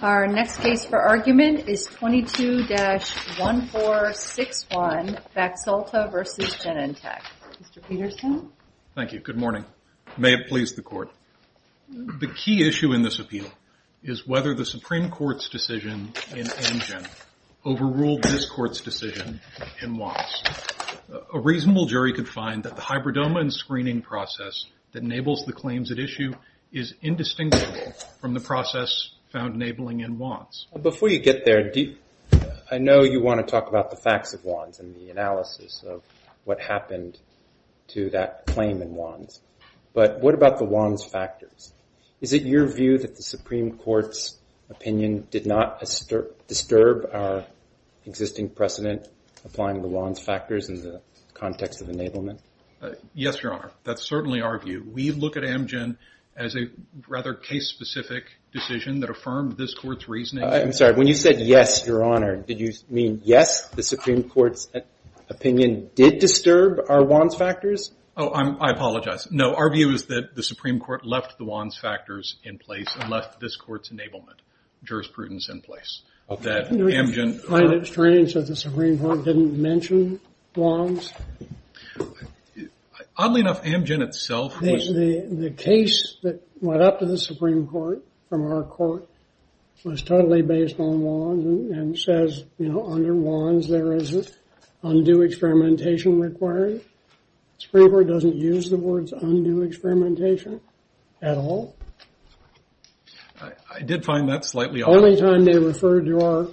Our next case for argument is 22-1461, Baxalta v. Genentech. Mr. Peterson? Thank you. Good morning. May it please the Court. The key issue in this appeal is whether the Supreme Court's decision in Amgen overruled this Court's decision in Watts. A reasonable jury could find that the hybridoma and screening process that enables the claims at issue is indistinguishable from the process found enabling in Watts. Before you get there, I know you want to talk about the facts of Watts and the analysis of what happened to that claim in Watts, but what about the Watts factors? Is it your view that the Supreme Court's opinion did not disturb our existing precedent applying the Watts factors in the context of enablement? Yes, Your Honor. That's certainly our view. We look at Amgen as a rather case-specific decision that affirmed this Court's reasoning. I'm sorry. When you said yes, Your Honor, did you mean yes, the Supreme Court's opinion did disturb our Watts factors? Oh, I apologize. No, our view is that the Supreme Court left the Watts factors in place and left this Court's enablement jurisprudence in place. Do you find it strange that the Supreme Court didn't mention Watts? Oddly enough, Amgen itself was... Supreme Court doesn't use the words undue experimentation at all? I did find that slightly odd. The only time they referred to our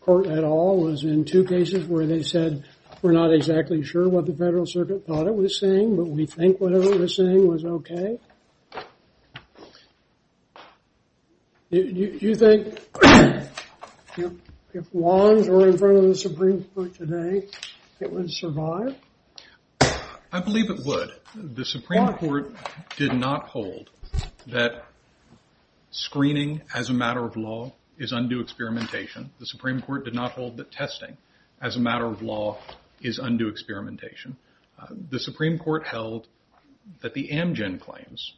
Court at all was in two cases where they said we're not exactly sure what the Federal Circuit thought it was saying, but we think whatever it was saying was okay? Do you think if Watts were in front of the Supreme Court today, it would survive? I believe it would. The Supreme Court did not hold that screening as a matter of law is undue experimentation. The Supreme Court did not hold that testing as a matter of law is undue experimentation. The Supreme Court held that the Amgen claims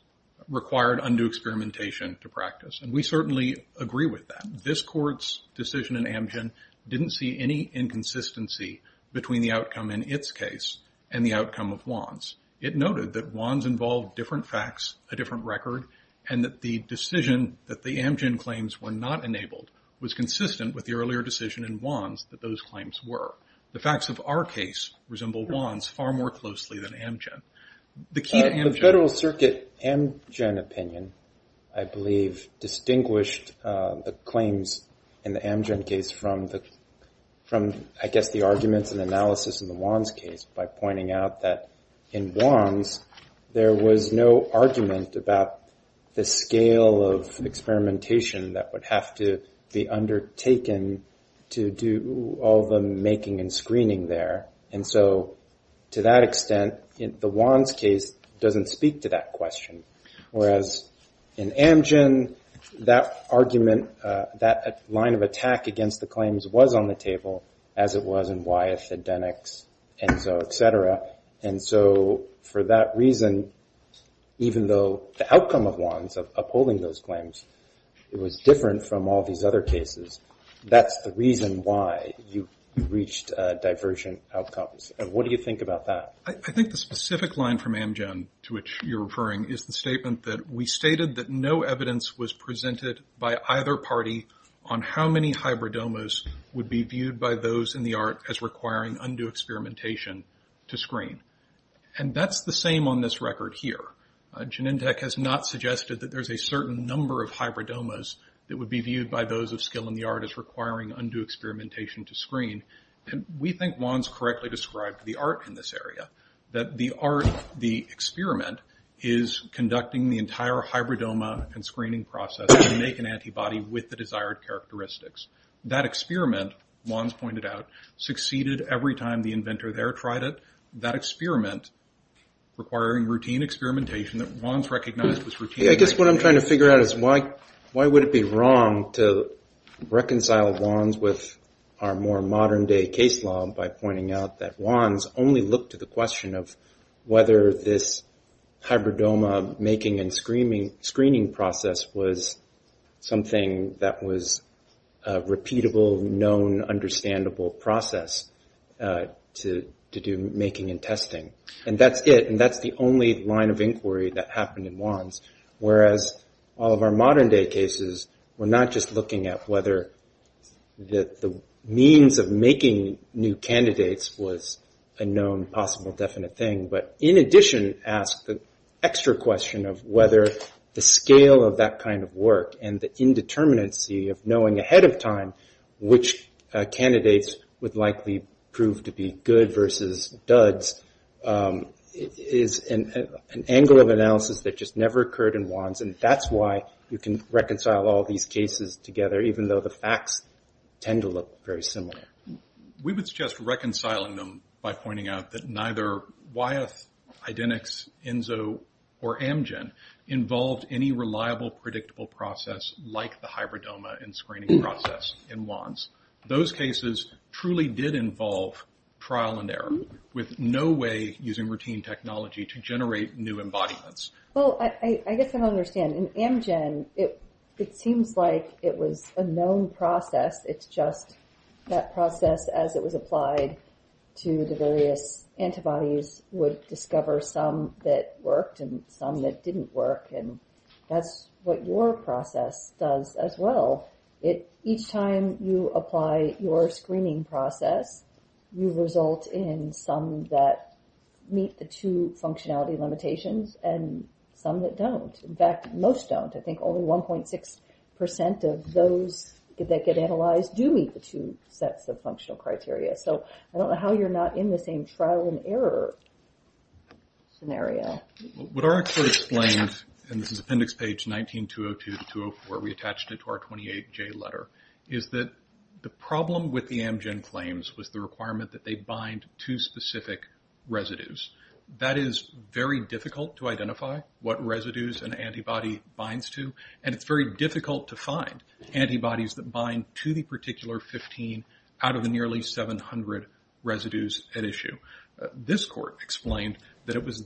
required undue experimentation to practice, and we certainly agree with that. This Court's decision in Amgen didn't see any inconsistency between the outcome in its case and the outcome of Watts. It noted that Watts involved different facts, a different record, and that the decision that the Amgen claims were not enabled was consistent with the earlier decision in Watts that those claims were. The facts of our case resemble Watts far more closely than Amgen. The Federal Circuit Amgen opinion, I believe, distinguished the claims in the Amgen case from, I guess, the arguments and analysis in the Watts case by pointing out that in Watts, there was no argument about the scale of experimentation that would have to be undertaken to do all the making and screening there. And so to that extent, the Watts case doesn't speak to that question. Whereas in Amgen, that argument, that line of attack against the claims was on the table, as it was in Wyeth, Edenics, Enzo, et cetera. And so for that reason, even though the outcome of Watts, of upholding those claims, it was different from all these other cases. That's the reason why you reached divergent outcomes. And what do you think about that? I think the specific line from Amgen to which you're referring is the statement that we stated that no evidence was presented by either party on how many hybridomas would be viewed by those in the art as requiring undue experimentation to screen. And that's the same on this record here. Genentech has not suggested that there's a certain number of hybridomas that would be viewed by those of skill in the art as requiring undue experimentation to screen. And we think Wands correctly described the art in this area. That the art, the experiment, is conducting the entire hybridoma and screening process to make an antibody with the desired characteristics. That experiment, Wands pointed out, succeeded every time the inventor there tried it. That experiment requiring routine experimentation that Wands recognized was routine. I guess what I'm trying to figure out is why would it be wrong to reconcile Wands with our more modern day case law by pointing out that Wands only looked to the question of whether this hybridoma making and screening process was something that was a repeatable, known, understandable process to do making and testing. And that's it. And that's the only line of inquiry that happened in Wands. Whereas all of our modern day cases were not just looking at whether the means of making new candidates was a known, possible, definite thing. But in addition, ask the extra question of whether the scale of that kind of work and the indeterminacy of knowing ahead of time which candidates would likely prove to be good versus duds. It is an angle of analysis that just never occurred in Wands. And that's why you can reconcile all these cases together even though the facts tend to look very similar. We would suggest reconciling them by pointing out that neither Wyeth, Idenix, Enzo, or Amgen involved any reliable, predictable process like the hybridoma and screening process in Wands. Those cases truly did involve trial and error with no way using routine technology to generate new embodiments. Well, I guess I don't understand. In Amgen, it seems like it was a known process. It's just that process as it was applied to the various antibodies would discover some that worked and some that didn't work. And that's what your process does as well. Each time you apply your screening process, you result in some that meet the two functionality limitations and some that don't. In fact, most don't. I think only 1.6% of those that get analyzed do meet the two sets of functional criteria. So I don't know how you're not in the same trial and error scenario. Well, what our expert explained, and this is appendix page 19-202-204, we attached it to our 28-J letter, is that the problem with the Amgen claims was the requirement that they bind to specific residues. That is very difficult to identify what residues an antibody binds to, and it's very difficult to find antibodies that bind to the particular 15 out of the nearly 700 residues at issue. This court explained that it was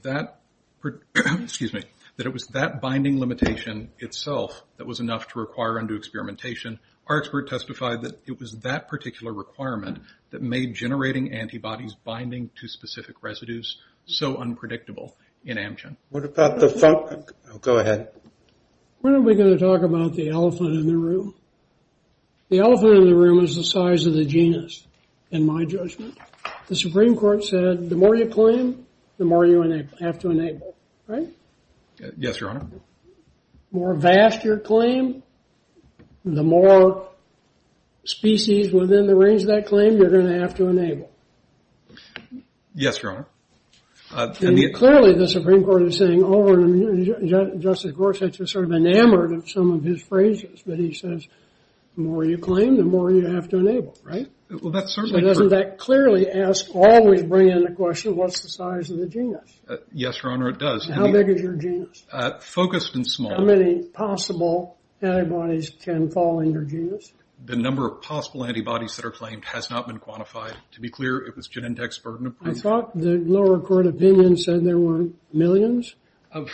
that binding limitation itself that was enough to require undue experimentation. Our expert testified that it was that particular requirement that made generating antibodies binding to specific residues so unpredictable in Amgen. What about the—go ahead. When are we going to talk about the elephant in the room? The elephant in the room is the size of the genus, in my judgment. The Supreme Court said the more you claim, the more you have to enable, right? Yes, Your Honor. The more vast your claim, the more species within the range of that claim you're going to have to enable. Yes, Your Honor. Clearly, the Supreme Court is saying, oh, Justice Gorsuch is sort of enamored of some of his phrases, but he says the more you claim, the more you have to enable, right? Doesn't that clearly ask—always bring in the question, what's the size of the genus? Yes, Your Honor, it does. How big is your genus? Focused and small. How many possible antibodies can fall in your genus? The number of possible antibodies that are claimed has not been quantified. To be clear, it was Genentech's burden of proof. I thought the lower court opinion said there were millions? Of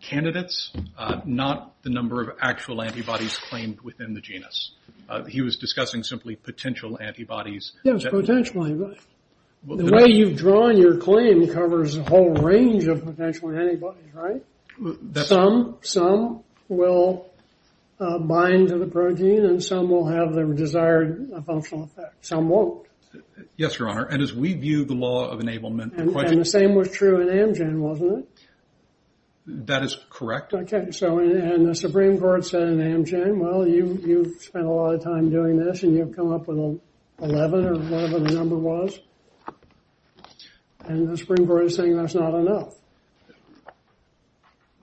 candidates, not the number of actual antibodies claimed within the genus. He was discussing simply potential antibodies. Yes, potential antibodies. The way you've drawn your claim covers a whole range of potential antibodies, right? Some will bind to the protein, and some will have the desired functional effect. Some won't. Yes, Your Honor, and as we view the law of enablement— And the same was true in Amgen, wasn't it? That is correct. Okay, and the Supreme Court said in Amgen, well, you've spent a lot of time doing this, and you've come up with 11 or whatever the number was, and the Supreme Court is saying that's not enough.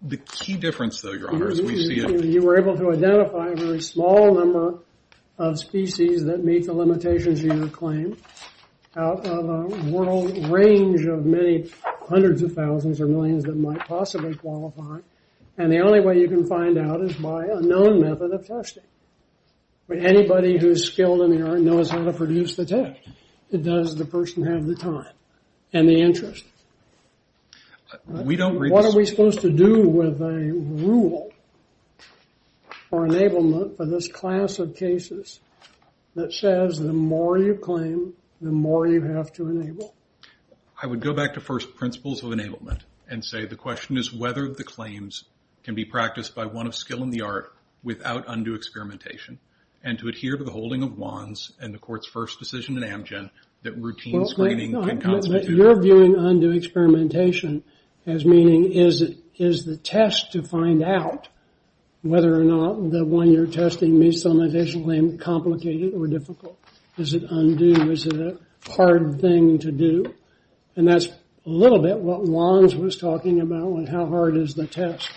The key difference, though, Your Honor, is we see a— You were able to identify a very small number of species that meet the limitations of your claim out of a world range of many hundreds of thousands or millions that might possibly qualify, and the only way you can find out is by a known method of testing. Anybody who is skilled in the art knows how to produce the test. It does the person have the time and the interest. We don't— What are we supposed to do with a rule for enablement for this class of cases that says the more you claim, the more you have to enable? I would go back to first principles of enablement and say the question is whether the claims can be practiced by one of skill in the art without undue experimentation and to adhere to the holding of WANs and the Court's first decision in Amgen that routine screening can constitute— Well, you're viewing undue experimentation as meaning is the test to find out whether or not the one you're testing meets some additional limit complicated or difficult? Is it undue? Is it a hard thing to do? And that's a little bit what WANs was talking about with how hard is the test.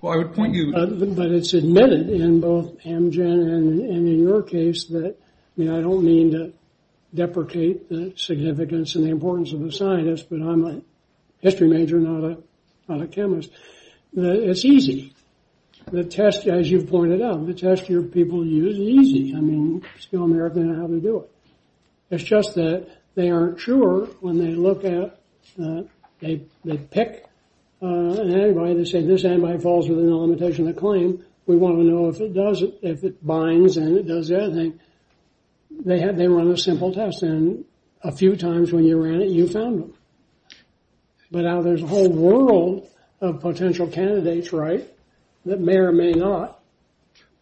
Well, I would point you— But it's admitted in both Amgen and in your case that— I mean, I don't mean to deprecate the significance and the importance of a scientist, but I'm a history major, not a chemist. It's easy. The test, as you've pointed out, the test your people use is easy. I mean, skill in the art, they know how to do it. It's just that they aren't sure when they look at—they pick an antibody. They say, this antibody falls within the limitation of the claim. We want to know if it does—if it binds and it does the other thing. They run a simple test, and a few times when you ran it, you found them. But now there's a whole world of potential candidates, right, that may or may not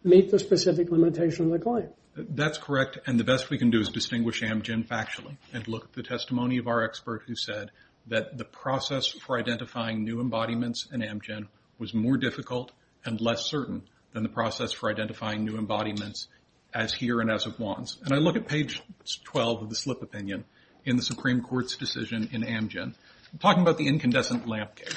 meet the specific limitation of the claim. That's correct, and the best we can do is distinguish Amgen factually and look at the testimony of our expert who said that the process for identifying new embodiments in Amgen was more difficult and less certain than the process for identifying new embodiments as here and as of WANs. And I look at page 12 of the slip opinion in the Supreme Court's decision in Amgen. I'm talking about the incandescent lamp case,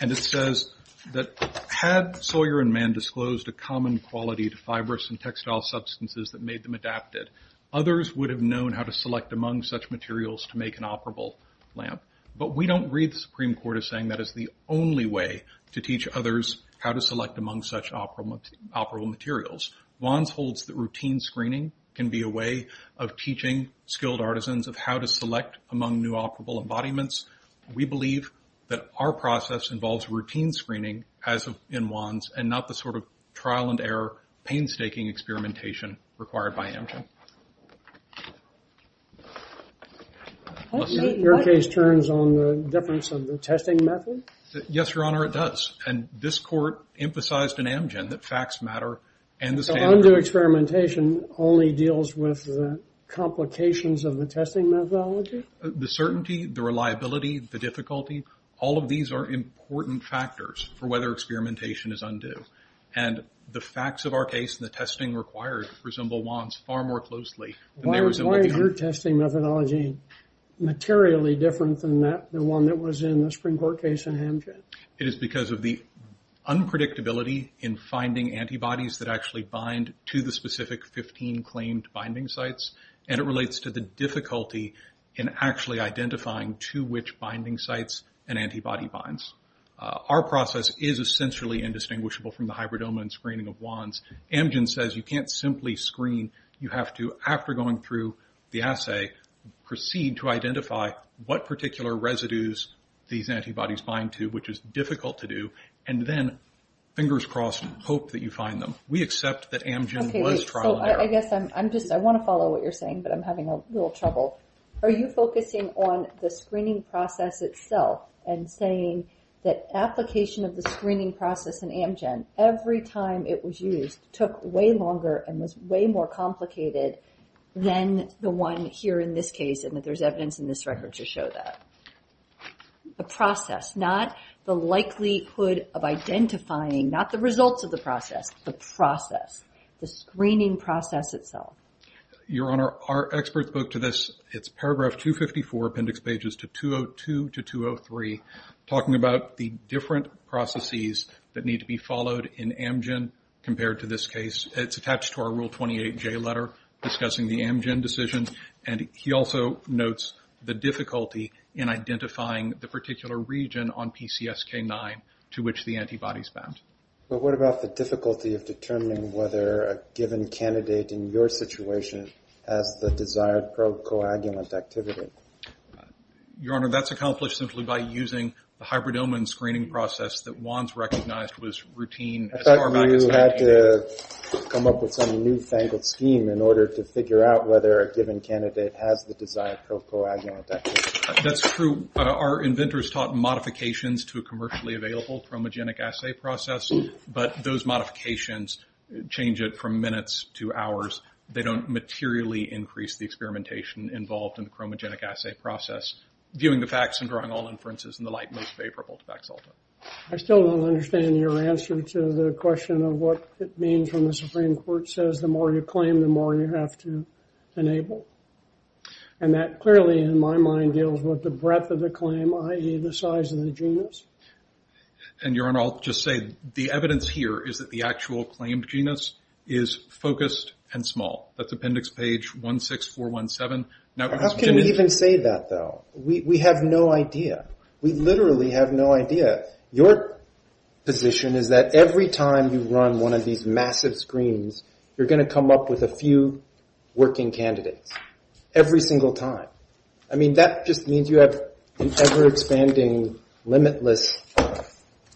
and it says that, had Sawyer and Mann disclosed a common quality to fibrous and textile substances that made them adapted, others would have known how to select among such materials to make an operable lamp. But we don't read the Supreme Court as saying that is the only way to teach others how to select among such operable materials. WANs holds that routine screening can be a way of teaching skilled artisans of how to select among new operable embodiments. We believe that our process involves routine screening as in WANs and not the sort of trial-and-error painstaking experimentation required by Amgen. Your case turns on the difference of the testing method? Yes, Your Honor, it does, and this court emphasized in Amgen that facts matter and the standard... So undue experimentation only deals with the complications of the testing methodology? The certainty, the reliability, the difficulty, all of these are important factors for whether experimentation is undue. And the facts of our case and the testing required resemble WANs far more closely. Why is your testing methodology materially different than that, the one that was in the Supreme Court case in Amgen? It is because of the unpredictability in finding antibodies that actually bind to the specific 15 claimed binding sites, and it relates to the difficulty in actually identifying to which binding sites an antibody binds. Our process is essentially indistinguishable from the hybridoma and screening of WANs. Amgen says you can't simply screen, you have to, after going through the assay, proceed to identify what particular residues these antibodies bind to, which is difficult to do, and then, fingers crossed, hope that you find them. We accept that Amgen was trial-and-error. I guess I want to follow what you're saying, but I'm having a little trouble. Are you focusing on the screening process itself and saying that application of the screening process in Amgen, every time it was used, took way longer and was way more complicated than the one here in this case, and that there's evidence in this record to show that? The process, not the likelihood of identifying, not the results of the process, the screening process itself. Your Honor, our expert spoke to this. It's paragraph 254, appendix pages 202 to 203, talking about the different processes that need to be followed in Amgen compared to this case. It's attached to our Rule 28J letter discussing the Amgen decision, and he also notes the difficulty in identifying the particular region on PCSK9 to which the antibodies bound. But what about the difficulty of determining whether a given candidate in your situation has the desired pro-coagulant activity? Your Honor, that's accomplished simply by using the hybrid omen screening process that Wands recognized was routine. I thought you had to come up with some newfangled scheme in order to figure out whether a given candidate has the desired pro-coagulant activity. That's true. Our inventors taught modifications to a commercially available chromogenic assay process, but those modifications change it from minutes to hours. They don't materially increase the experimentation involved in the chromogenic assay process, viewing the facts and drawing all inferences in the light most favorable to Vax-Alta. I still don't understand your answer to the question of what it means when the Supreme Court says the more you claim, the more you have to enable. And that clearly, in my mind, deals with the breadth of the claim, i.e., the size of the genus. Your Honor, I'll just say the evidence here is that the actual claimed genus is focused and small. That's appendix page 16417. How can you even say that, though? We have no idea. We literally have no idea. Your position is that every time you run one of these massive screens, you're going to come up with a few working candidates, every single time. I mean, that just means you have an ever-expanding, limitless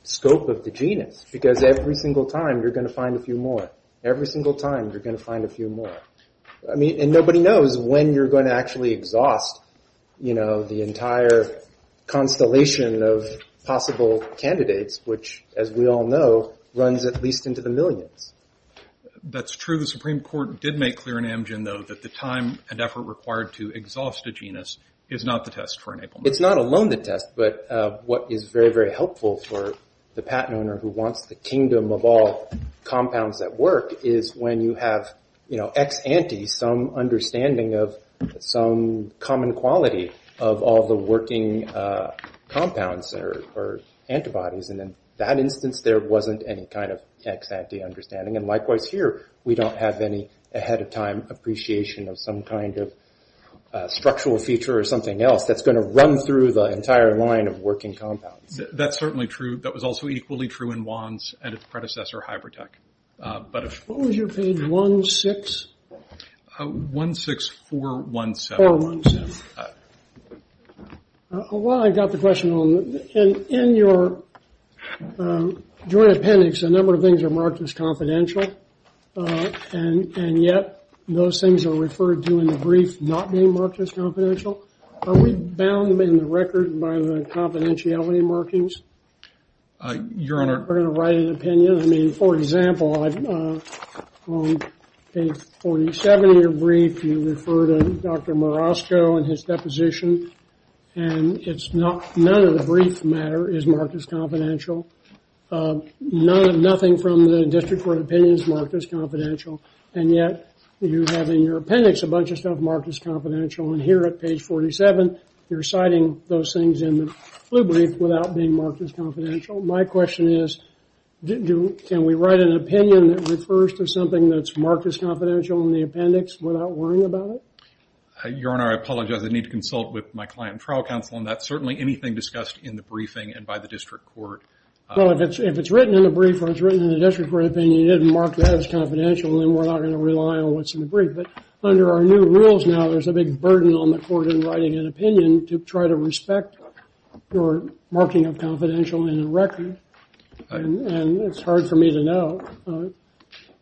scope of the genus, because every single time you're going to find a few more. Every single time you're going to find a few more. And nobody knows when you're going to actually exhaust the entire constellation of possible candidates, which, as we all know, runs at least into the millions. That's true. The Supreme Court did make clear in Amgen, though, that the time and effort required to exhaust a genus is not the test for enablement. It's not alone the test, but what is very, very helpful for the patent owner who wants the kingdom of all compounds that work is when you have, you know, ex ante some understanding of some common quality of all the working compounds or antibodies. And in that instance, there wasn't any kind of ex ante understanding. And likewise here, we don't have any ahead-of-time appreciation of some kind of structural feature or something else that's going to run through the entire line of working compounds. That's certainly true. That was also equally true in Wands and its predecessor, Hybritech. What was your page, 16? 16417. Well, I've got the question. In your joint appendix, a number of things are marked as confidential, and yet those things are referred to in the brief not being marked as confidential. Are we bound in the record by the confidentiality markings? Your Honor. We're going to write an opinion? I mean, for example, on page 47 of your brief, you refer to Dr. Marosco and his deposition, and none of the brief matter is marked as confidential. Nothing from the district court opinion is marked as confidential, and yet you have in your appendix a bunch of stuff marked as confidential. And here at page 47, you're citing those things in the blue brief without being marked as confidential. My question is, can we write an opinion that refers to something that's marked as confidential in the appendix without worrying about it? Your Honor, I apologize. I need to consult with my client trial counsel on that. Certainly anything discussed in the briefing and by the district court. Well, if it's written in the brief or it's written in the district court opinion, you didn't mark that as confidential, then we're not going to rely on what's in the brief. But under our new rules now, there's a big burden on the court in writing an opinion to try to respect your marking of confidential in the record. And it's hard for me to know. It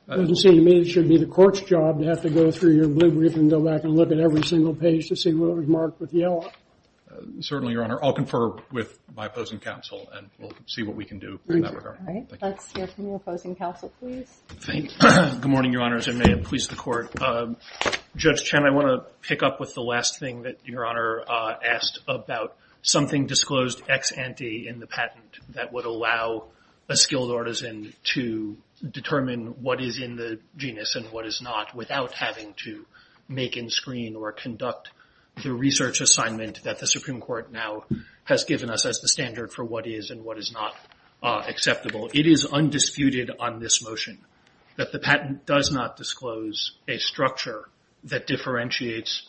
doesn't seem to me it should be the court's job to have to go through your blue brief and go back and look at every single page to see what was marked with yellow. Certainly, Your Honor. I'll confer with my opposing counsel, and we'll see what we can do in that regard. All right. Let's hear from your opposing counsel, please. Thank you. Good morning, Your Honors, and may it please the Court. Judge Chen, I want to pick up with the last thing that Your Honor asked about something disclosed ex ante in the patent that would allow a skilled artisan to determine what is in the genus and what is not without having to make and screen or conduct the research assignment that the Supreme Court now has given us as the standard for what is and what is not acceptable. It is undisputed on this motion that the patent does not disclose a structure that differentiates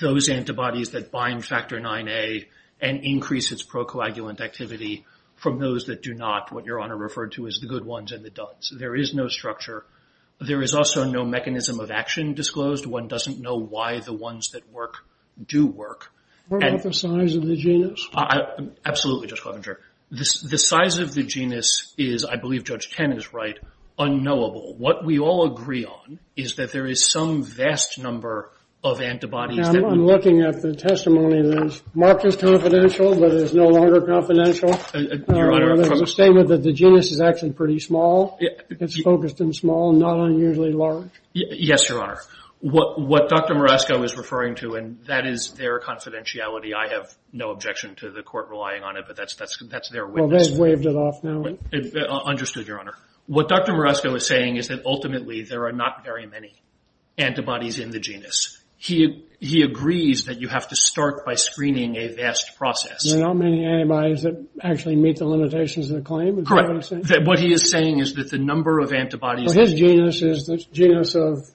those antibodies that bind factor 9A and increase its procoagulant activity from those that do not, what Your Honor referred to as the good ones and the duds. There is no structure. There is also no mechanism of action disclosed. One doesn't know why the ones that work do work. What about the size of the genus? Absolutely, Judge Covinger. The size of the genus is, I believe Judge Chen is right, unknowable. What we all agree on is that there is some vast number of antibodies. I'm looking at the testimony that is marked as confidential, but it is no longer confidential. Your Honor, I'm saying that the genus is actually pretty small. It's focused in small, not unusually large. Yes, Your Honor. What Dr. Moresco is referring to, and that is their confidentiality. I have no objection to the court relying on it, but that's their witness. Well, they've waived it off now. Understood, Your Honor. What Dr. Moresco is saying is that, ultimately, there are not very many antibodies in the genus. He agrees that you have to start by screening a vast process. There are not many antibodies that actually meet the limitations of the claim? Correct. What he is saying is that the number of antibodies. His genus is the genus of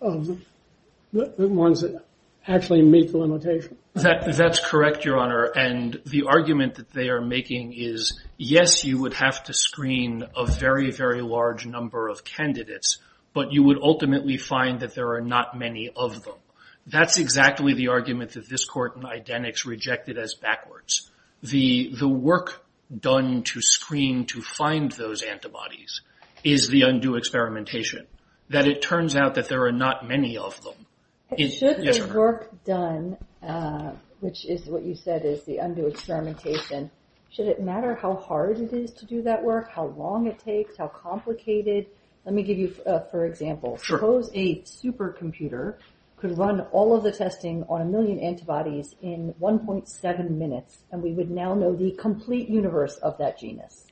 the ones that actually meet the limitation. That's correct, Your Honor. And the argument that they are making is, yes, you would have to screen a very, very large number of candidates, but you would ultimately find that there are not many of them. That's exactly the argument that this court in eidetics rejected as backwards. The work done to screen to find those antibodies is the undue experimentation, that it turns out that there are not many of them. Should the work done, which is what you said is the undue experimentation, should it matter how hard it is to do that work, how long it takes, how complicated? Let me give you, for example, suppose a supercomputer could run all of the testing on a million antibodies in 1.7 minutes, and we would now know the complete universe of that genus.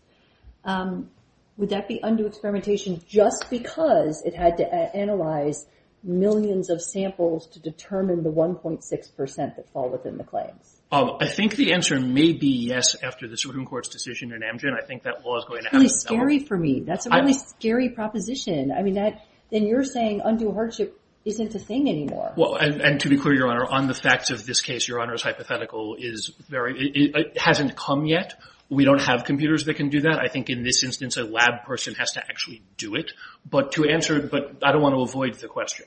Would that be undue experimentation just because it had to analyze millions of samples to determine the 1.6% that fall within the claims? I think the answer may be yes after the Supreme Court's decision in Amgen. I think that law is going to have to be developed. That's really scary for me. That's a really scary proposition. I mean, then you're saying undue hardship isn't a thing anymore. Well, and to be clear, Your Honor, on the facts of this case, Your Honor's hypothetical hasn't come yet. We don't have computers that can do that. I think in this instance a lab person has to actually do it. But I don't want to avoid the question.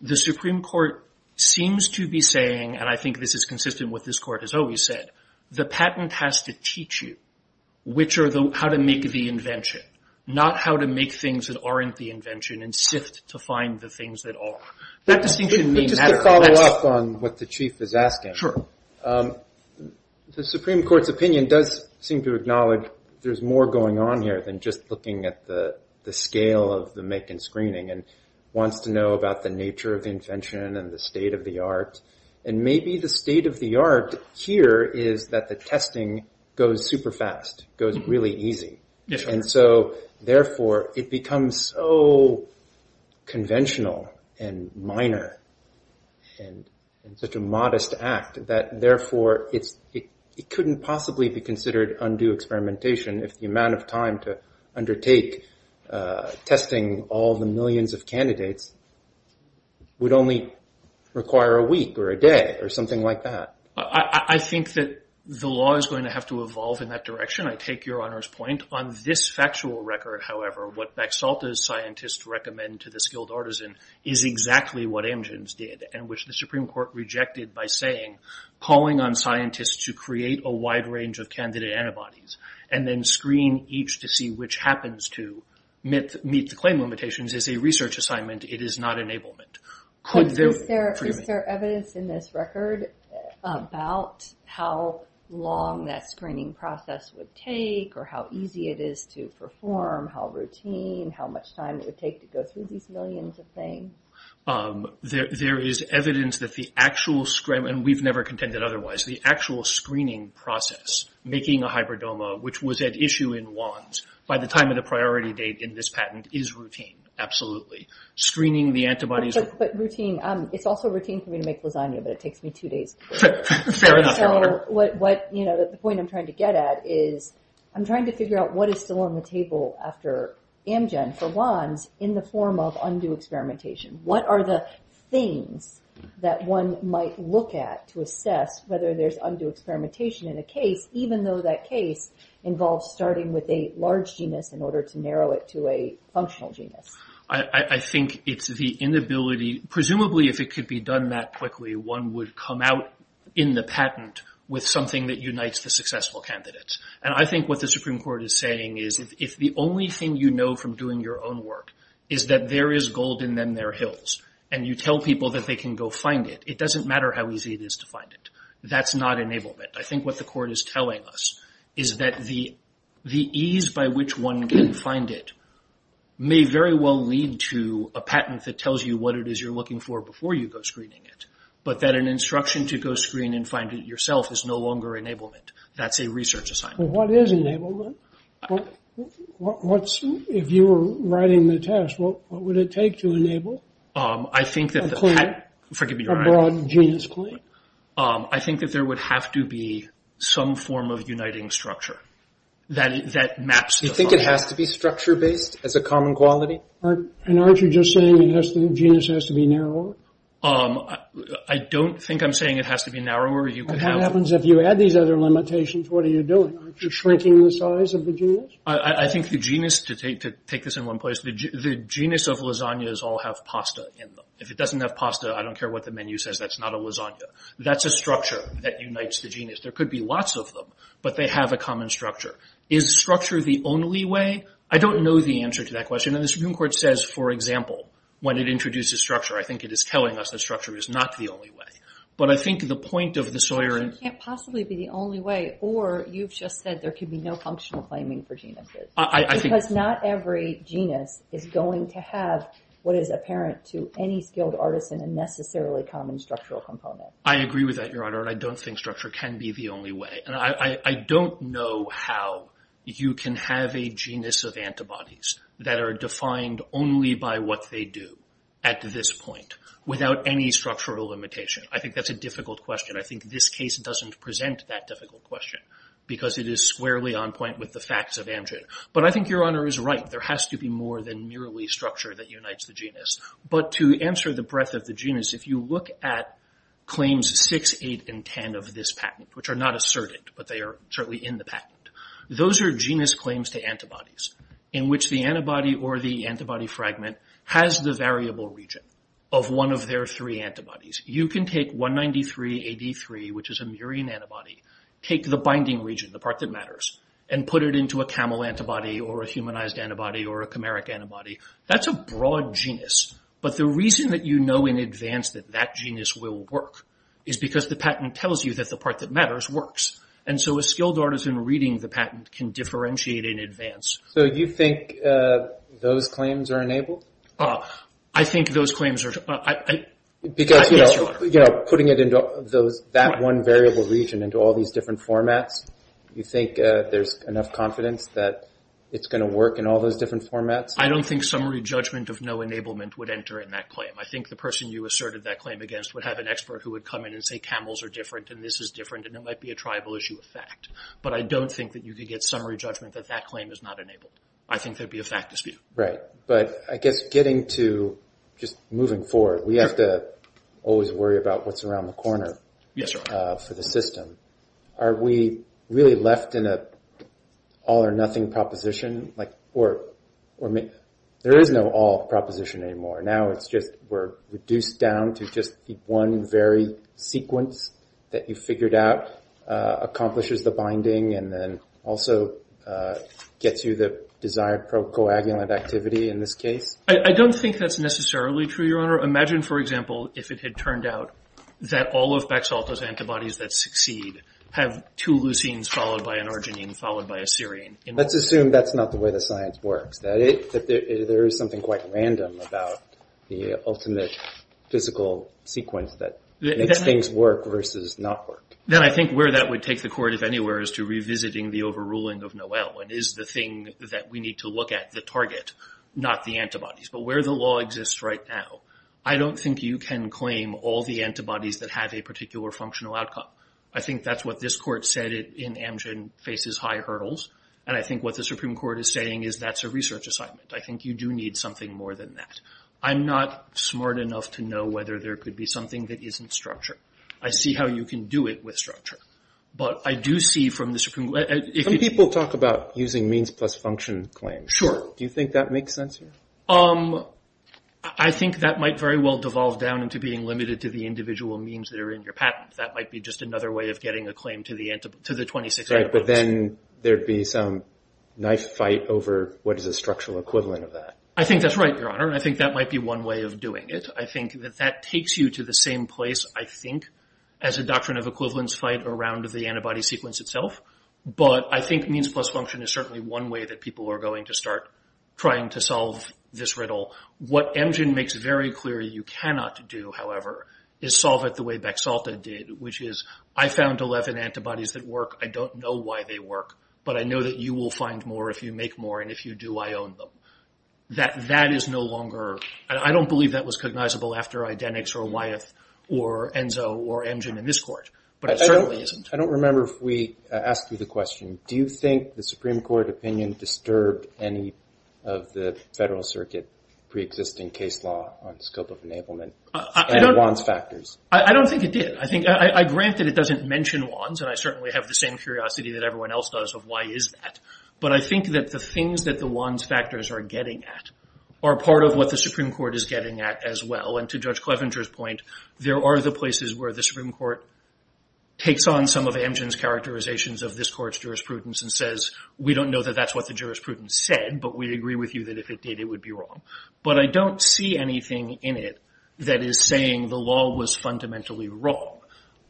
The Supreme Court seems to be saying, and I think this is consistent with what this Court has always said, the patent has to teach you how to make the invention, not how to make things that aren't the invention and sift to find the things that are. That distinction may matter. But just to follow up on what the Chief is asking, the Supreme Court's opinion does seem to acknowledge there's more going on here than just looking at the scale of the make and screening and wants to know about the nature of the invention and the state of the art. And maybe the state of the art here is that the testing goes super fast, goes really easy. And so, therefore, it becomes so conventional and minor and such a modest act that, therefore, it couldn't possibly be considered undue experimentation if the amount of time to undertake testing all the millions of candidates would only require a week or a day or something like that. I think that the law is going to have to evolve in that direction. I take Your Honor's point. On this factual record, however, what Bexalta's scientists recommend to the skilled artisan is exactly what Amgen's did and which the Supreme Court rejected by saying, calling on scientists to create a wide range of candidate antibodies and then screen each to see which happens to meet the claim limitations is a research assignment. It is not enablement. Is there evidence in this record about how long that screening process would take or how easy it is to perform, how routine, how much time it would take to go through these millions of things? There is evidence that the actual screening, and we've never contended otherwise, the actual screening process making a hybridoma, which was at issue in WANDS by the time of the priority date in this patent, is routine, absolutely. Screening the antibodies. But routine. It's also routine for me to make lasagna, but it takes me two days. Fair enough, Your Honor. So the point I'm trying to get at is I'm trying to figure out what is still on the table after Amgen for WANDS in the form of undue experimentation. What are the things that one might look at to assess whether there's undue experimentation in a case, even though that case involves starting with a large genus in order to narrow it to a functional genus? I think it's the inability, presumably if it could be done that quickly, one would come out in the patent with something that unites the successful candidates. And I think what the Supreme Court is saying is if the only thing you know from doing your own work is that there is gold in them there hills and you tell people that they can go find it, it doesn't matter how easy it is to find it. That's not enablement. I think what the court is telling us is that the ease by which one can find it may very well lead to a patent that tells you what it is you're looking for before you go screening it, but that an instruction to go screen and find it yourself is no longer enablement. That's a research assignment. What is enablement? If you were writing the test, what would it take to enable a broad genus claim? I think that there would have to be some form of uniting structure that maps. You think it has to be structure-based as a common quality? And aren't you just saying the genus has to be narrower? I don't think I'm saying it has to be narrower. What happens if you add these other limitations? What are you doing? Aren't you shrinking the size of the genus? I think the genus, to take this in one place, the genus of lasagnas all have pasta in them. If it doesn't have pasta, I don't care what the menu says. That's not a lasagna. That's a structure that unites the genus. There could be lots of them, but they have a common structure. Is structure the only way? I don't know the answer to that question, and the Supreme Court says, for example, when it introduces structure, I think it is telling us that structure is not the only way. But I think the point of the Sawyer— It can't possibly be the only way, or you've just said there could be no functional claiming for genuses. Because not every genus is going to have what is apparent to any skilled artisan and necessarily common structural component. I agree with that, Your Honor, and I don't think structure can be the only way. And I don't know how you can have a genus of antibodies that are defined only by what they do at this point, without any structural limitation. I think that's a difficult question. I think this case doesn't present that difficult question, because it is squarely on point with the facts of Amgen. But I think Your Honor is right. There has to be more than merely structure that unites the genus. But to answer the breadth of the genus, if you look at claims 6, 8, and 10 of this patent, which are not asserted, but they are certainly in the patent, those are genus claims to antibodies, in which the antibody or the antibody fragment has the variable region of one of their three antibodies. You can take 193AD3, which is a murine antibody, take the binding region, the part that matters, and put it into a camel antibody or a humanized antibody or a chimeric antibody. That's a broad genus. But the reason that you know in advance that that genus will work is because the patent tells you that the part that matters works. And so a skilled artisan reading the patent can differentiate in advance. So you think those claims are enabled? I think those claims are... Because, you know, putting it into that one variable region into all these different formats, you think there's enough confidence that it's going to work in all those different formats? I don't think summary judgment of no enablement would enter in that claim. I think the person you asserted that claim against would have an expert who would come in and say camels are different and this is different and it might be a tribal issue of fact. But I don't think that you could get summary judgment that that claim is not enabled. I think there would be a fact dispute. Right. But I guess getting to just moving forward, we have to always worry about what's around the corner for the system. Are we really left in an all or nothing proposition? Or there is no all proposition anymore. Now it's just we're reduced down to just the one very sequence that you figured out accomplishes the binding and then also gets you the desired coagulant activity in this case? I don't think that's necessarily true, Your Honor. Imagine, for example, if it had turned out that all of Bexalta's antibodies that succeed have two leucines followed by an arginine followed by a serine. Let's assume that's not the way the science works, that there is something quite random about the ultimate physical sequence that makes things work versus not work. Then I think where that would take the court, if anywhere, is to revisiting the overruling of Noel. It is the thing that we need to look at, the target, not the antibodies. But where the law exists right now, I don't think you can claim all the antibodies that have a particular functional outcome. I think that's what this Court said in Amgen faces high hurdles. And I think what the Supreme Court is saying is that's a research assignment. I think you do need something more than that. I'm not smart enough to know whether there could be something that isn't structured. I see how you can do it with structure. But I do see from the Supreme Court... Some people talk about using means plus function claims. Sure. Do you think that makes sense here? I think that might very well devolve down into being limited to the individual means that are in your patent. That might be just another way of getting a claim to the 26 antibodies. Right, but then there would be some knife fight over what is the structural equivalent of that. I think that's right, Your Honor. And I think that might be one way of doing it. I think that that takes you to the same place, I think, as a doctrine of equivalence fight around the antibody sequence itself. But I think means plus function is certainly one way that people are going to start trying to solve this riddle. What Amgen makes very clear you cannot do, however, is solve it the way Bexalta did, which is, I found 11 antibodies that work. I don't know why they work. But I know that you will find more if you make more. And if you do, I own them. That is no longer, and I don't believe that was cognizable after identics or Wyeth or Enzo or Amgen in this court. But it certainly isn't. I don't remember if we asked you the question, do you think the Supreme Court opinion disturbed any of the Federal Circuit preexisting case law on scope of enablement and WANs factors? I don't think it did. I think, granted, it doesn't mention WANs, and I certainly have the same curiosity that everyone else does of why is that. But I think that the things that the WANs factors are getting at are part of what the Supreme Court is getting at as well. And to Judge Clevenger's point, there are the places where the Supreme Court takes on some of Amgen's characterizations of this court's jurisprudence and says, we don't know that that's what the jurisprudence said, but we agree with you that if it did, it would be wrong. But I don't see anything in it that is saying the law was fundamentally wrong.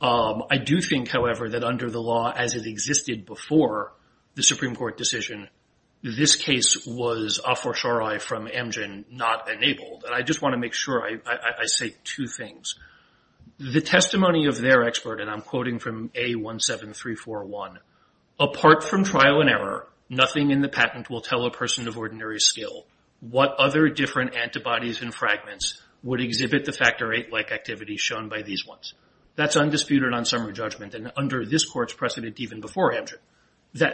I do think, however, that under the law as it existed before, the Supreme Court decision, this case was a fortiori from Amgen not enabled. And I just want to make sure I say two things. The testimony of their expert, and I'm quoting from A17341, apart from trial and error, nothing in the patent will tell a person of ordinary skill what other different antibodies and fragments would exhibit the factor VIII-like activity shown by these ones. That's undisputed on summary judgment and under this court's precedent even before Amgen.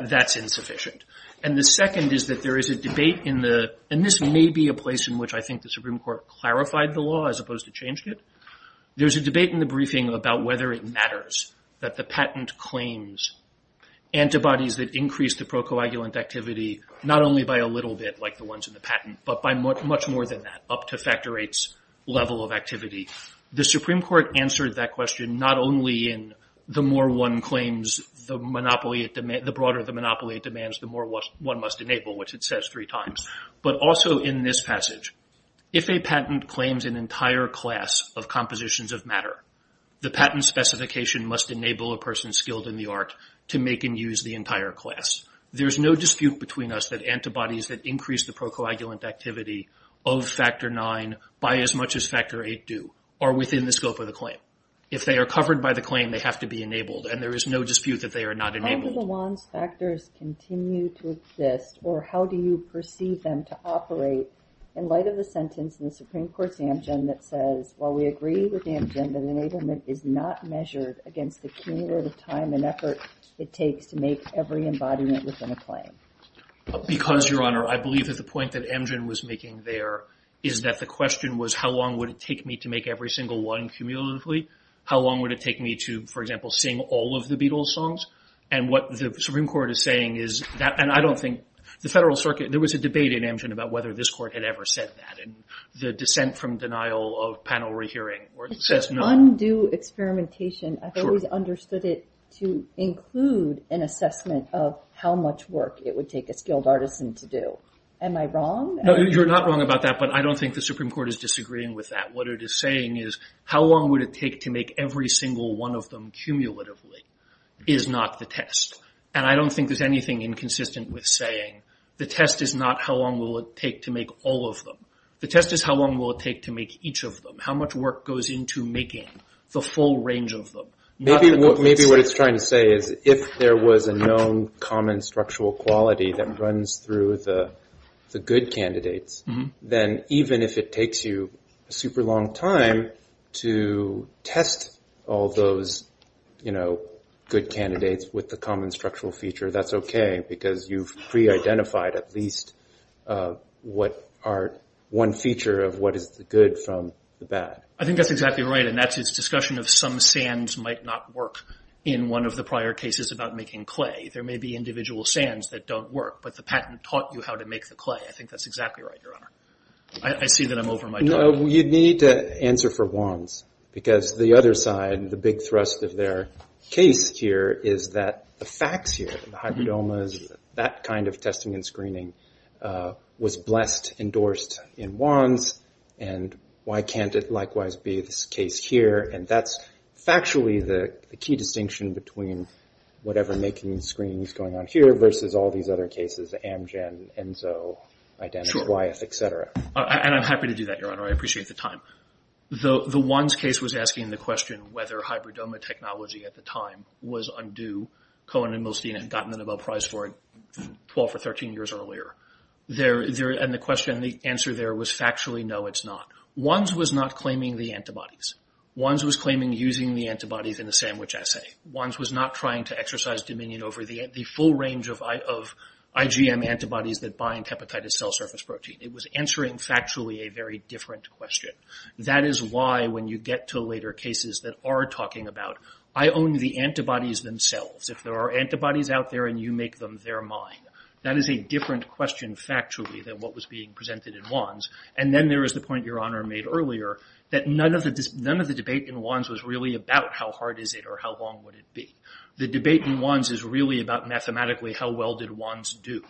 That's insufficient. And the second is that there is a debate in the... And this may be a place in which I think the Supreme Court clarified the law as opposed to changed it. There's a debate in the briefing about whether it matters that the patent claims antibodies that increase the procoagulant activity not only by a little bit like the ones in the patent, but by much more than that, up to factor VIII's level of activity. The Supreme Court answered that question not only in the broader the monopoly it demands, the more one must enable, which it says three times, but also in this passage. If a patent claims an entire class of compositions of matter, the patent specification must enable a person skilled in the art to make and use the entire class. There's no dispute between us that antibodies that increase the procoagulant activity of factor IX by as much as factor VIII do are within the scope of the claim. If they are covered by the claim, they have to be enabled, and there is no dispute that they are not enabled. How do the WANs factors continue to exist, or how do you perceive them to operate in light of the sentence in the Supreme Court's Amgen that says, while we agree with Amgen that enablement is not measured against the cumulative time and effort it takes to make every embodiment within a claim? Because, Your Honor, I believe that the point that Amgen was making there is that the question was how long would it take me to make every single one cumulatively? How long would it take me to, for example, sing all of the Beatles songs? And what the Supreme Court is saying is that, and I don't think the Federal Circuit, there was a debate in Amgen about whether this Court had ever said that, and the dissent from denial of panel re-hearing says no. It's just undue experimentation. I've always understood it to include an assessment of how much work it would take a skilled artisan to do. Am I wrong? No, you're not wrong about that, but I don't think the Supreme Court is disagreeing with that. What it is saying is how long would it take to make every single one of them cumulatively is not the test, and I don't think there's anything inconsistent with saying the test is not how long will it take to make all of them. The test is how long will it take to make each of them, how much work goes into making the full range of them. Maybe what it's trying to say is if there was a known common structural quality that runs through the good candidates, then even if it takes you a super long time to test all those good candidates with the common structural feature, that's okay because you've pre-identified at least one feature of what is the good from the bad. I think that's exactly right, and that's its discussion of some sands might not work in one of the prior cases about making clay. There may be individual sands that don't work, but the patent taught you how to make the clay. I think that's exactly right, Your Honor. I see that I'm over my time. No, you need to answer for Wands, because the other side, the big thrust of their case here, is that the facts here, the hybridomas, that kind of testing and screening was blessed, endorsed in Wands, and why can't it likewise be this case here, and that's factually the key distinction between whatever making and screening is going on here versus all these other cases, Amgen, Enso, Identis, Wyeth, et cetera. I'm happy to do that, Your Honor. I appreciate the time. The Wands case was asking the question whether hybridoma technology at the time was undue. Cohen and Milstein had gotten the Nobel Prize for it 12 or 13 years earlier, and the answer there was factually no, it's not. Wands was not claiming the antibodies. Wands was claiming using the antibodies in the sandwich assay. Wands was not trying to exercise dominion over the full range of IgM antibodies that bind hepatitis cell surface protein. It was answering factually a very different question. That is why when you get to later cases that are talking about, I own the antibodies themselves. If there are antibodies out there and you make them, they're mine. That is a different question factually than what was being presented in Wands, and then there is the point Your Honor made earlier that none of the debate in Wands was really about how hard is it or how long would it be. The debate in Wands is really about mathematically how well did Wands do.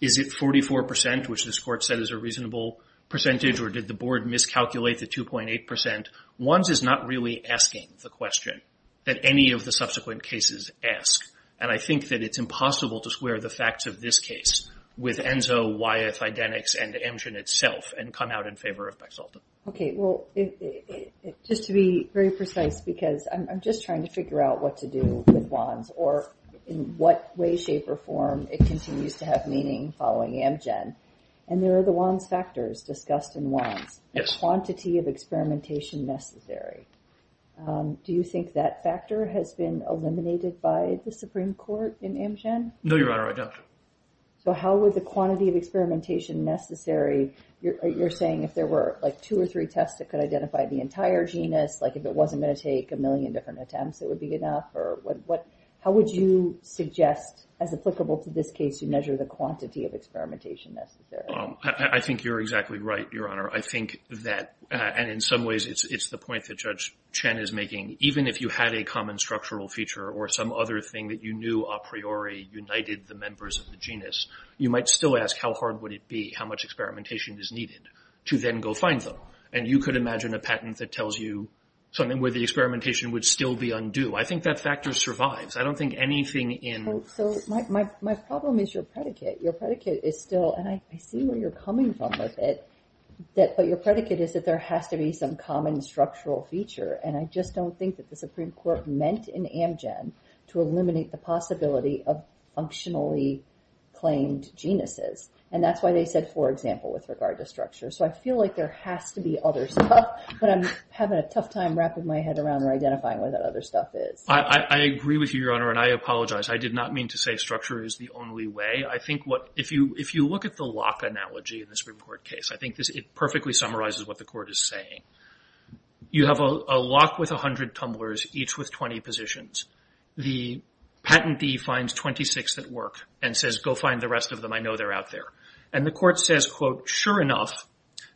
Is it 44%, which this Court said is a reasonable percentage, or did the Board miscalculate the 2.8%? Wands is not really asking the question that any of the subsequent cases ask, and I think that it's impossible to square the facts of this case with ENSO, Wyeth, IDENIX, and Amgen itself and come out in favor of Bexalta. Okay, well, just to be very precise, because I'm just trying to figure out what to do with Wands or in what way, shape, or form it continues to have meaning following Amgen, and there are the Wands factors discussed in Wands. Yes. Quantity of experimentation necessary. Do you think that factor has been eliminated by the Supreme Court in Amgen? No, Your Honor, I don't. So how would the quantity of experimentation necessary... You're saying if there were, like, two or three tests that could identify the entire genus, like, if it wasn't going to take a million different attempts, it would be enough? How would you suggest, as applicable to this case, you measure the quantity of experimentation necessary? I think you're exactly right, Your Honor. I think that, and in some ways, it's the point that Judge Chen is making. Even if you had a common structural feature or some other thing that you knew a priori united the members of the genus, you might still ask, how hard would it be, how much experimentation is needed, to then go find them? And you could imagine a patent that tells you something where the experimentation would still be undue. I think that factor survives. I don't think anything in... So my problem is your predicate. Your predicate is still, and I see where you're coming from with it, but your predicate is that there has to be some common structural feature, and I just don't think that the Supreme Court meant in Amgen to eliminate the possibility of functionally claimed genuses. And that's why they said, for example, with regard to structure. So I feel like there has to be other stuff, but I'm having a tough time wrapping my head around or identifying what that other stuff is. I agree with you, Your Honor, and I apologize. I did not mean to say structure is the only way. I think what... If you look at the lock analogy in this Supreme Court case, I think it perfectly summarizes what the Court is saying. You have a lock with 100 tumblers, each with 20 positions. The patentee finds 26 that work and says, go find the rest of them. I know they're out there. And the Court says, quote, sure enough,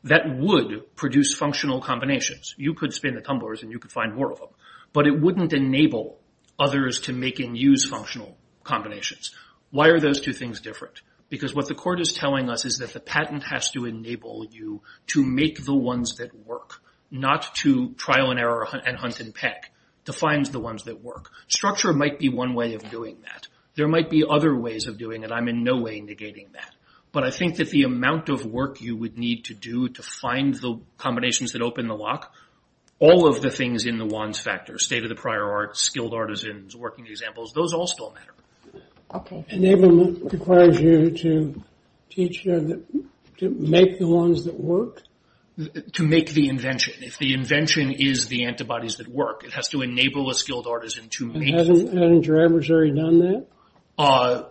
that would produce functional combinations. You could spin the tumblers and you could find more of them, but it wouldn't enable others to make and use functional combinations. Why are those two things different? Because what the Court is telling us is that the patent has to enable you to make the ones that work, not to trial and error and hunt and peck to find the ones that work. Structure might be one way of doing that. There might be other ways of doing it. I'm in no way negating that. But I think that the amount of work you would need to do to find the combinations that open the lock, all of the things in the ones factor, state of the prior art, skilled artisans, working examples, those all still matter. Okay. Enablement requires you to teach them to make the ones that work? To make the invention. If the invention is the antibodies that work, it has to enable a skilled artisan to make... And hasn't your adversary done that? Uh...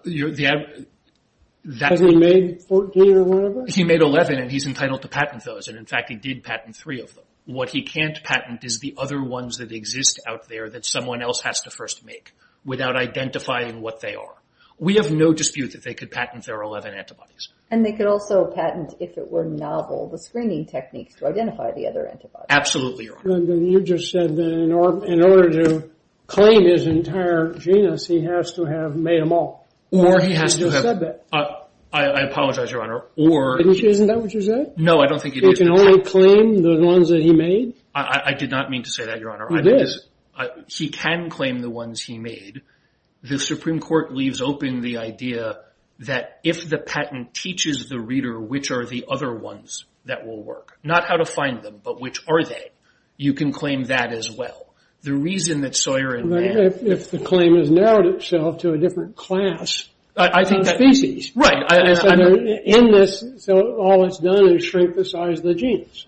Has he made 14 or whatever? He made 11, and he's entitled to patent those. And, in fact, he did patent three of them. What he can't patent is the other ones that exist out there that someone else has to first make without identifying what they are. We have no dispute that they could patent their 11 antibodies. And they could also patent, if it were novel, the screening techniques to identify the other antibodies. Absolutely, Your Honor. You just said that in order to claim his entire genus, he has to have made them all. Or he has to have... I apologize, Your Honor. Isn't that what you said? You can only claim the ones that he made? I did not mean to say that, Your Honor. He can claim the ones he made. The Supreme Court leaves open the idea that if the patent teaches the reader which are the other ones that will work, not how to find them, but which are they, you can claim that as well. The reason that Sawyer and Mann... If the claim has narrowed itself to a different class, species, so all it's done is shrink the size of the genus.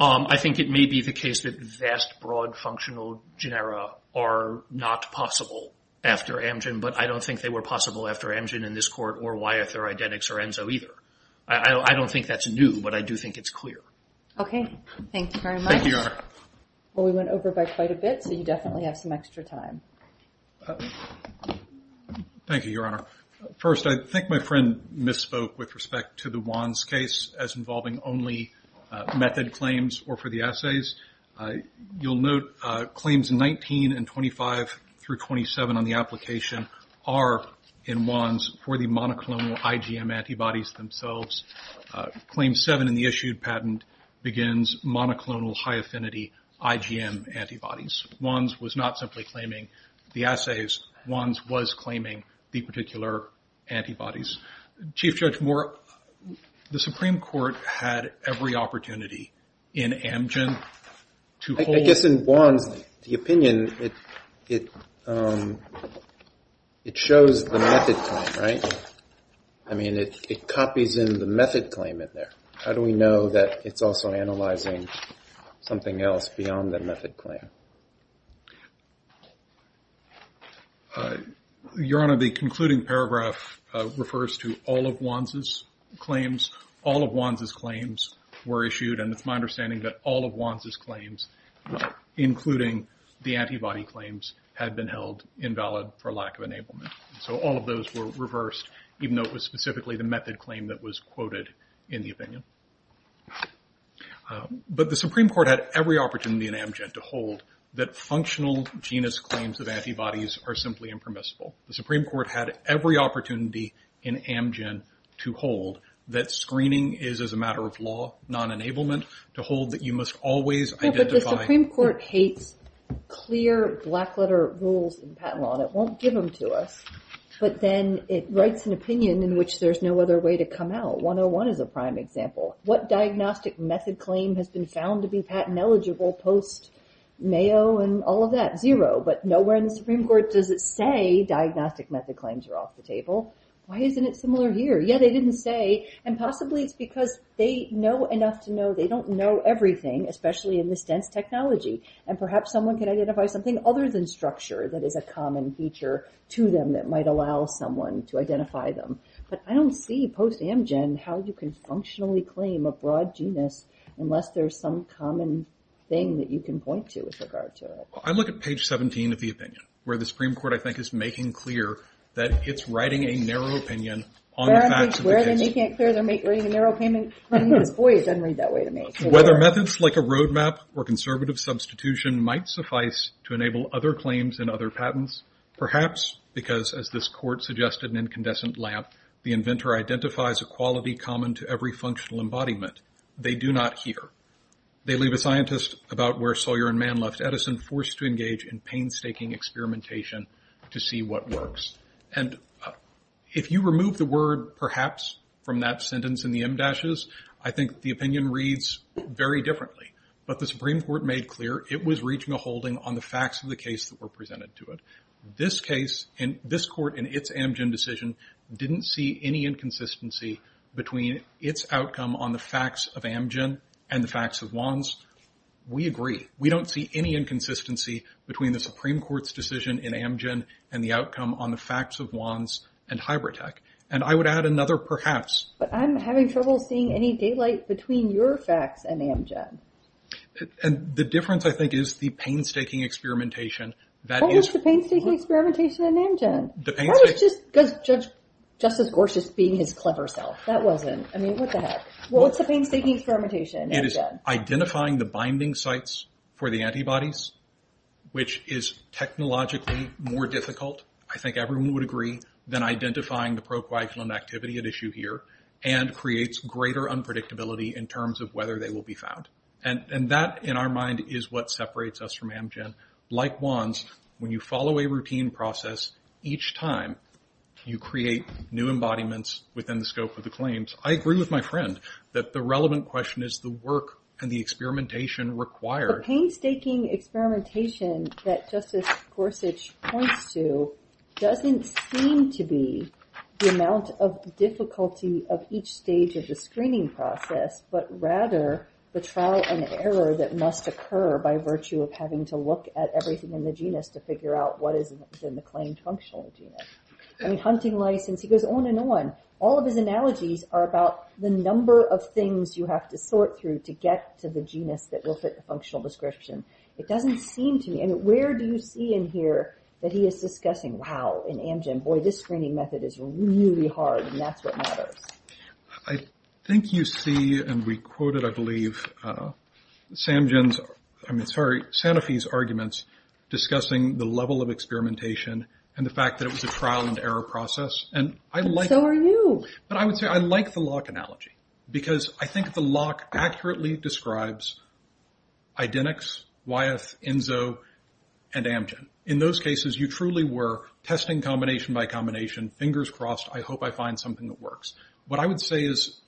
I think it may be the case that vast, broad, functional genera are not possible after Amgen, but I don't think they were possible after Amgen in this Court, or Wyeth or Identix or Enzo either. I don't think that's new, but I do think it's clear. Okay. Thank you very much. Well, we went over by quite a bit, so you definitely have some extra time. Thank you, Your Honor. First, I think my friend misspoke with respect to the Wands case as involving only method claims or for the assays. You'll note claims 19 and 25 through 27 on the application are in Wands for the monoclonal IgM antibodies themselves. Claim 7 in the issued patent begins monoclonal high affinity IgM antibodies. Wands was not simply claiming the assays. Wands was claiming the particular antibodies. Chief Judge Moore, the Supreme Court had every opportunity in Amgen to hold... I guess in Wands, the opinion, it shows the method claim, right? I mean, it copies in the method claim in there. How do we know that it's also analyzing something else beyond the method claim? Your Honor, the concluding paragraph refers to all of Wands' claims. All of Wands' claims were issued, and it's my understanding that all of Wands' claims, including the antibody claims, had been held invalid for lack of enablement. So all of those were reversed, even though it was specifically the opinion. But the Supreme Court had every opportunity in Amgen to hold that functional genus claims of antibodies are simply impermissible. The Supreme Court had every opportunity in Amgen to hold that screening is, as a matter of law, non-enablement, to hold that you must always identify... No, but the Supreme Court hates clear black letter rules in patent law, and it won't give them to us. But then it writes an opinion in which there's no other way to come out. 101 is a prime example. What diagnostic method claim has been found to be patent eligible post Mayo and all of that? Zero. But nowhere in the Supreme Court does it say diagnostic method claims are off the table. Why isn't it similar here? Yeah, they didn't say, and possibly it's because they know enough to know they don't know everything, especially in this dense technology. And perhaps someone can identify something other than structure that is a common feature to them that might allow someone to identify them. But I don't see post-Amgen how you can functionally claim a broad genus unless there's some common thing that you can point to with regard to it. I look at page 17 of the opinion, where the Supreme Court, I think, is making clear that it's writing a narrow opinion on the facts of the case. Where are they making it clear they're writing a narrow opinion? Boy, it doesn't read that way to me. Whether methods like a roadmap or conservative substitution might suffice to enable other claims and other patents, perhaps because, as this court suggested in Incandescent Lamp, the inventor identifies a quality common to every functional embodiment. They do not here. They leave a scientist about where Sawyer and Mann left Edison, forced to engage in painstaking experimentation to see what works. And if you remove the word, perhaps, from that sentence in the em dashes, I think the opinion reads very differently. But the Supreme Court made clear it was reaching a holding on the facts of the case that were in this court in its Amgen decision didn't see any inconsistency between its outcome on the facts of Amgen and the facts of Wands. We agree. We don't see any inconsistency between the Supreme Court's decision in Amgen and the outcome on the facts of Wands and Hybritech. And I would add another perhaps. But I'm having trouble seeing any daylight between your facts and Amgen. And the difference, I think, is the painstaking experimentation What was the painstaking experimentation in Amgen? Judge Justice Gorsuch being his clever self. That wasn't. What's the painstaking experimentation in Amgen? It is identifying the binding sites for the antibodies which is technologically more difficult, I think everyone would agree, than identifying the pro-coagulant activity at issue here and creates greater unpredictability in terms of whether they will be found. And that, in our mind, is what responds when you follow a routine process each time you create new embodiments within the scope of the claims. I agree with my friend that the relevant question is the work and the experimentation required. The painstaking experimentation that Justice Gorsuch points to doesn't seem to be the amount of difficulty of each stage of the screening process but rather the trial and error that must occur by the genus to figure out what is in the claimed functional genus. Hunting license, he goes on and on. All of his analogies are about the number of things you have to sort through to get to the genus that will fit the functional description. It doesn't seem to me, and where do you see in here that he is discussing, wow, in Amgen, boy this screening method is really hard and that's what matters. I think you see and we quoted, I believe, Sanofi's discussing the level of experimentation and the fact that it was a trial and error process. And so are you. But I would say I like the Locke analogy because I think the Locke accurately describes identics, Wyeth, Enzo, and Amgen. In those cases you truly were testing combination by combination, fingers crossed, I hope I find something that works. What I would say is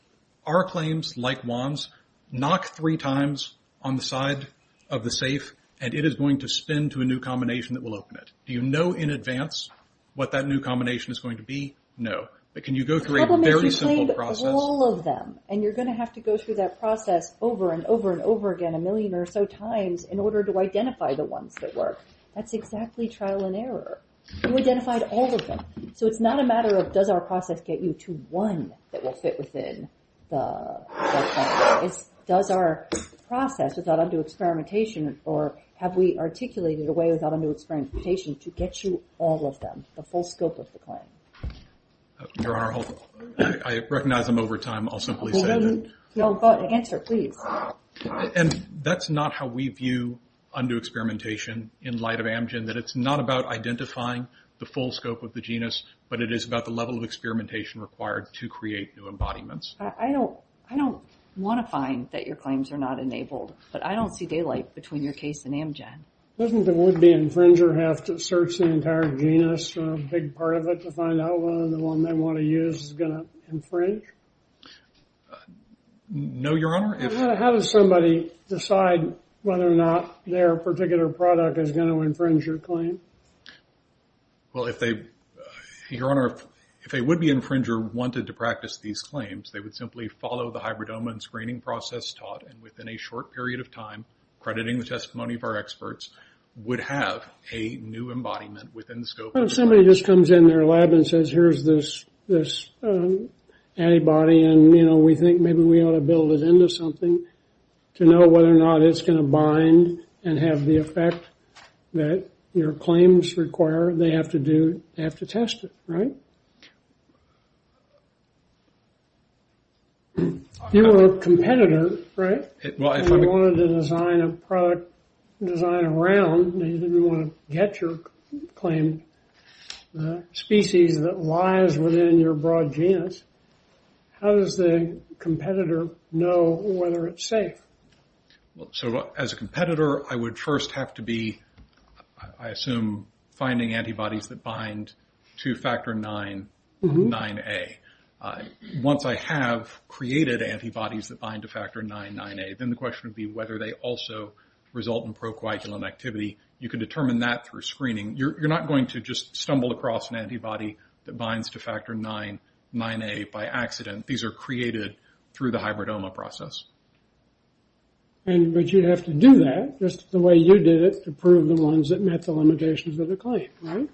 our claims like Juan's, knock three times on the side of the safe and it is going to spin to a new combination that will open it. Do you know in advance what that new combination is going to be? No. But can you go through a very simple process? All of them. And you're going to have to go through that process over and over and over again a million or so times in order to identify the ones that work. That's exactly trial and error. You identified all of them. So it's not a matter of does our process get you to one that will fit within the... Does our process without undue experimentation or have we articulated a way without undue experimentation to get you all of them, the full scope of the claim? I recognize them over time, I'll simply say that. Answer please. And that's not how we view undue experimentation in light of Amgen, that it's not about identifying the full scope of the genus, but it is about the level of experimentation required to create new embodiments. I don't want to find that your claims are not enabled, but I don't see daylight between your case and Amgen. Doesn't the would-be infringer have to search the entire genus or a big part of it to find out whether the one they want to use is going to infringe? No, Your Honor. How does somebody decide whether or not their particular product is going to infringe your claim? Well, if they... Your Honor, if a would-be would simply follow the hybridoma and screening process taught, and within a short period of time, crediting the testimony of our experts, would have a new embodiment within the scope... Somebody just comes in their lab and says, here's this antibody, and we think maybe we ought to build it into something to know whether or not it's going to bind and have the effect that your claims require. They have to test it, right? You're a competitor, right? If you wanted to design a product, design a round, and you didn't want to get your claimed species that lies within your broad genus, how does the competitor know whether it's safe? So, as a competitor, I would first have to be, I assume, finding antibodies that bind to factor 9, 9A. Once I have created antibodies that bind to factor 9, 9A, then the question would be whether they also result in procoagulant activity. You can determine that through screening. You're not going to just stumble across an antibody that binds to factor 9, 9A by accident. These are created through the hybridoma process. But you'd have to do that, just the way you did it, to prove the ones that met the limitations of the claim, right?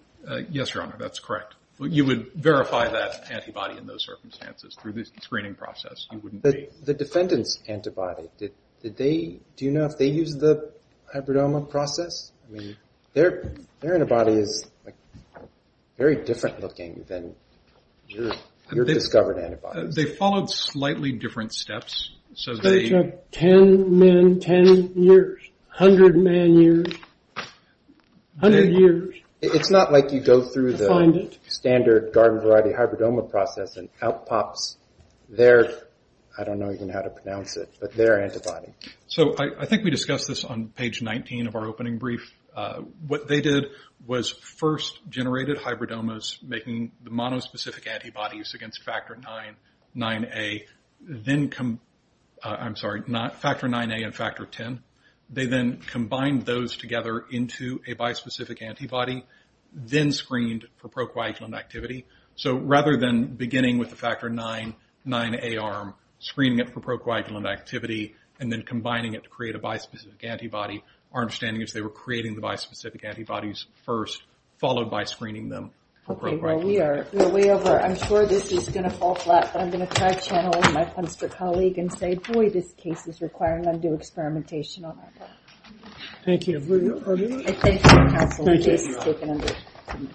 Yes, Your Honor, that's correct. You would verify that antibody in those circumstances through the screening process. You wouldn't be... The defendant's antibody, did they, do you know if they used the hybridoma process? I mean, their antibody is very different looking than your discovered antibody. They followed slightly different steps, so they... They took 10 men, 10 years. 100 man years. 100 years. It's not like you go through the standard garden variety hybridoma process and out pops their... I don't know even how to pronounce it, but their antibody. I think we discussed this on page 19 of our opening brief. What they did was first generated hybridomas making the monospecific antibodies against factor 9, 9A, then come... I'm sorry, factor 9A and factor 10. They then combined those together into a bispecific antibody, then screened for procoagulant activity. So rather than beginning with the factor 9, 9A arm, screening it for procoagulant activity, and then combining it to create a bispecific antibody, our understanding is they were creating the bispecific antibodies first, followed by screening them for procoagulant. Okay, well we are way over. I'm sure this is going to fall flat, but I'm going to try channeling my punster colleague and say, boy, this case is requiring undue experimentation on our part. Thank you. Thank you.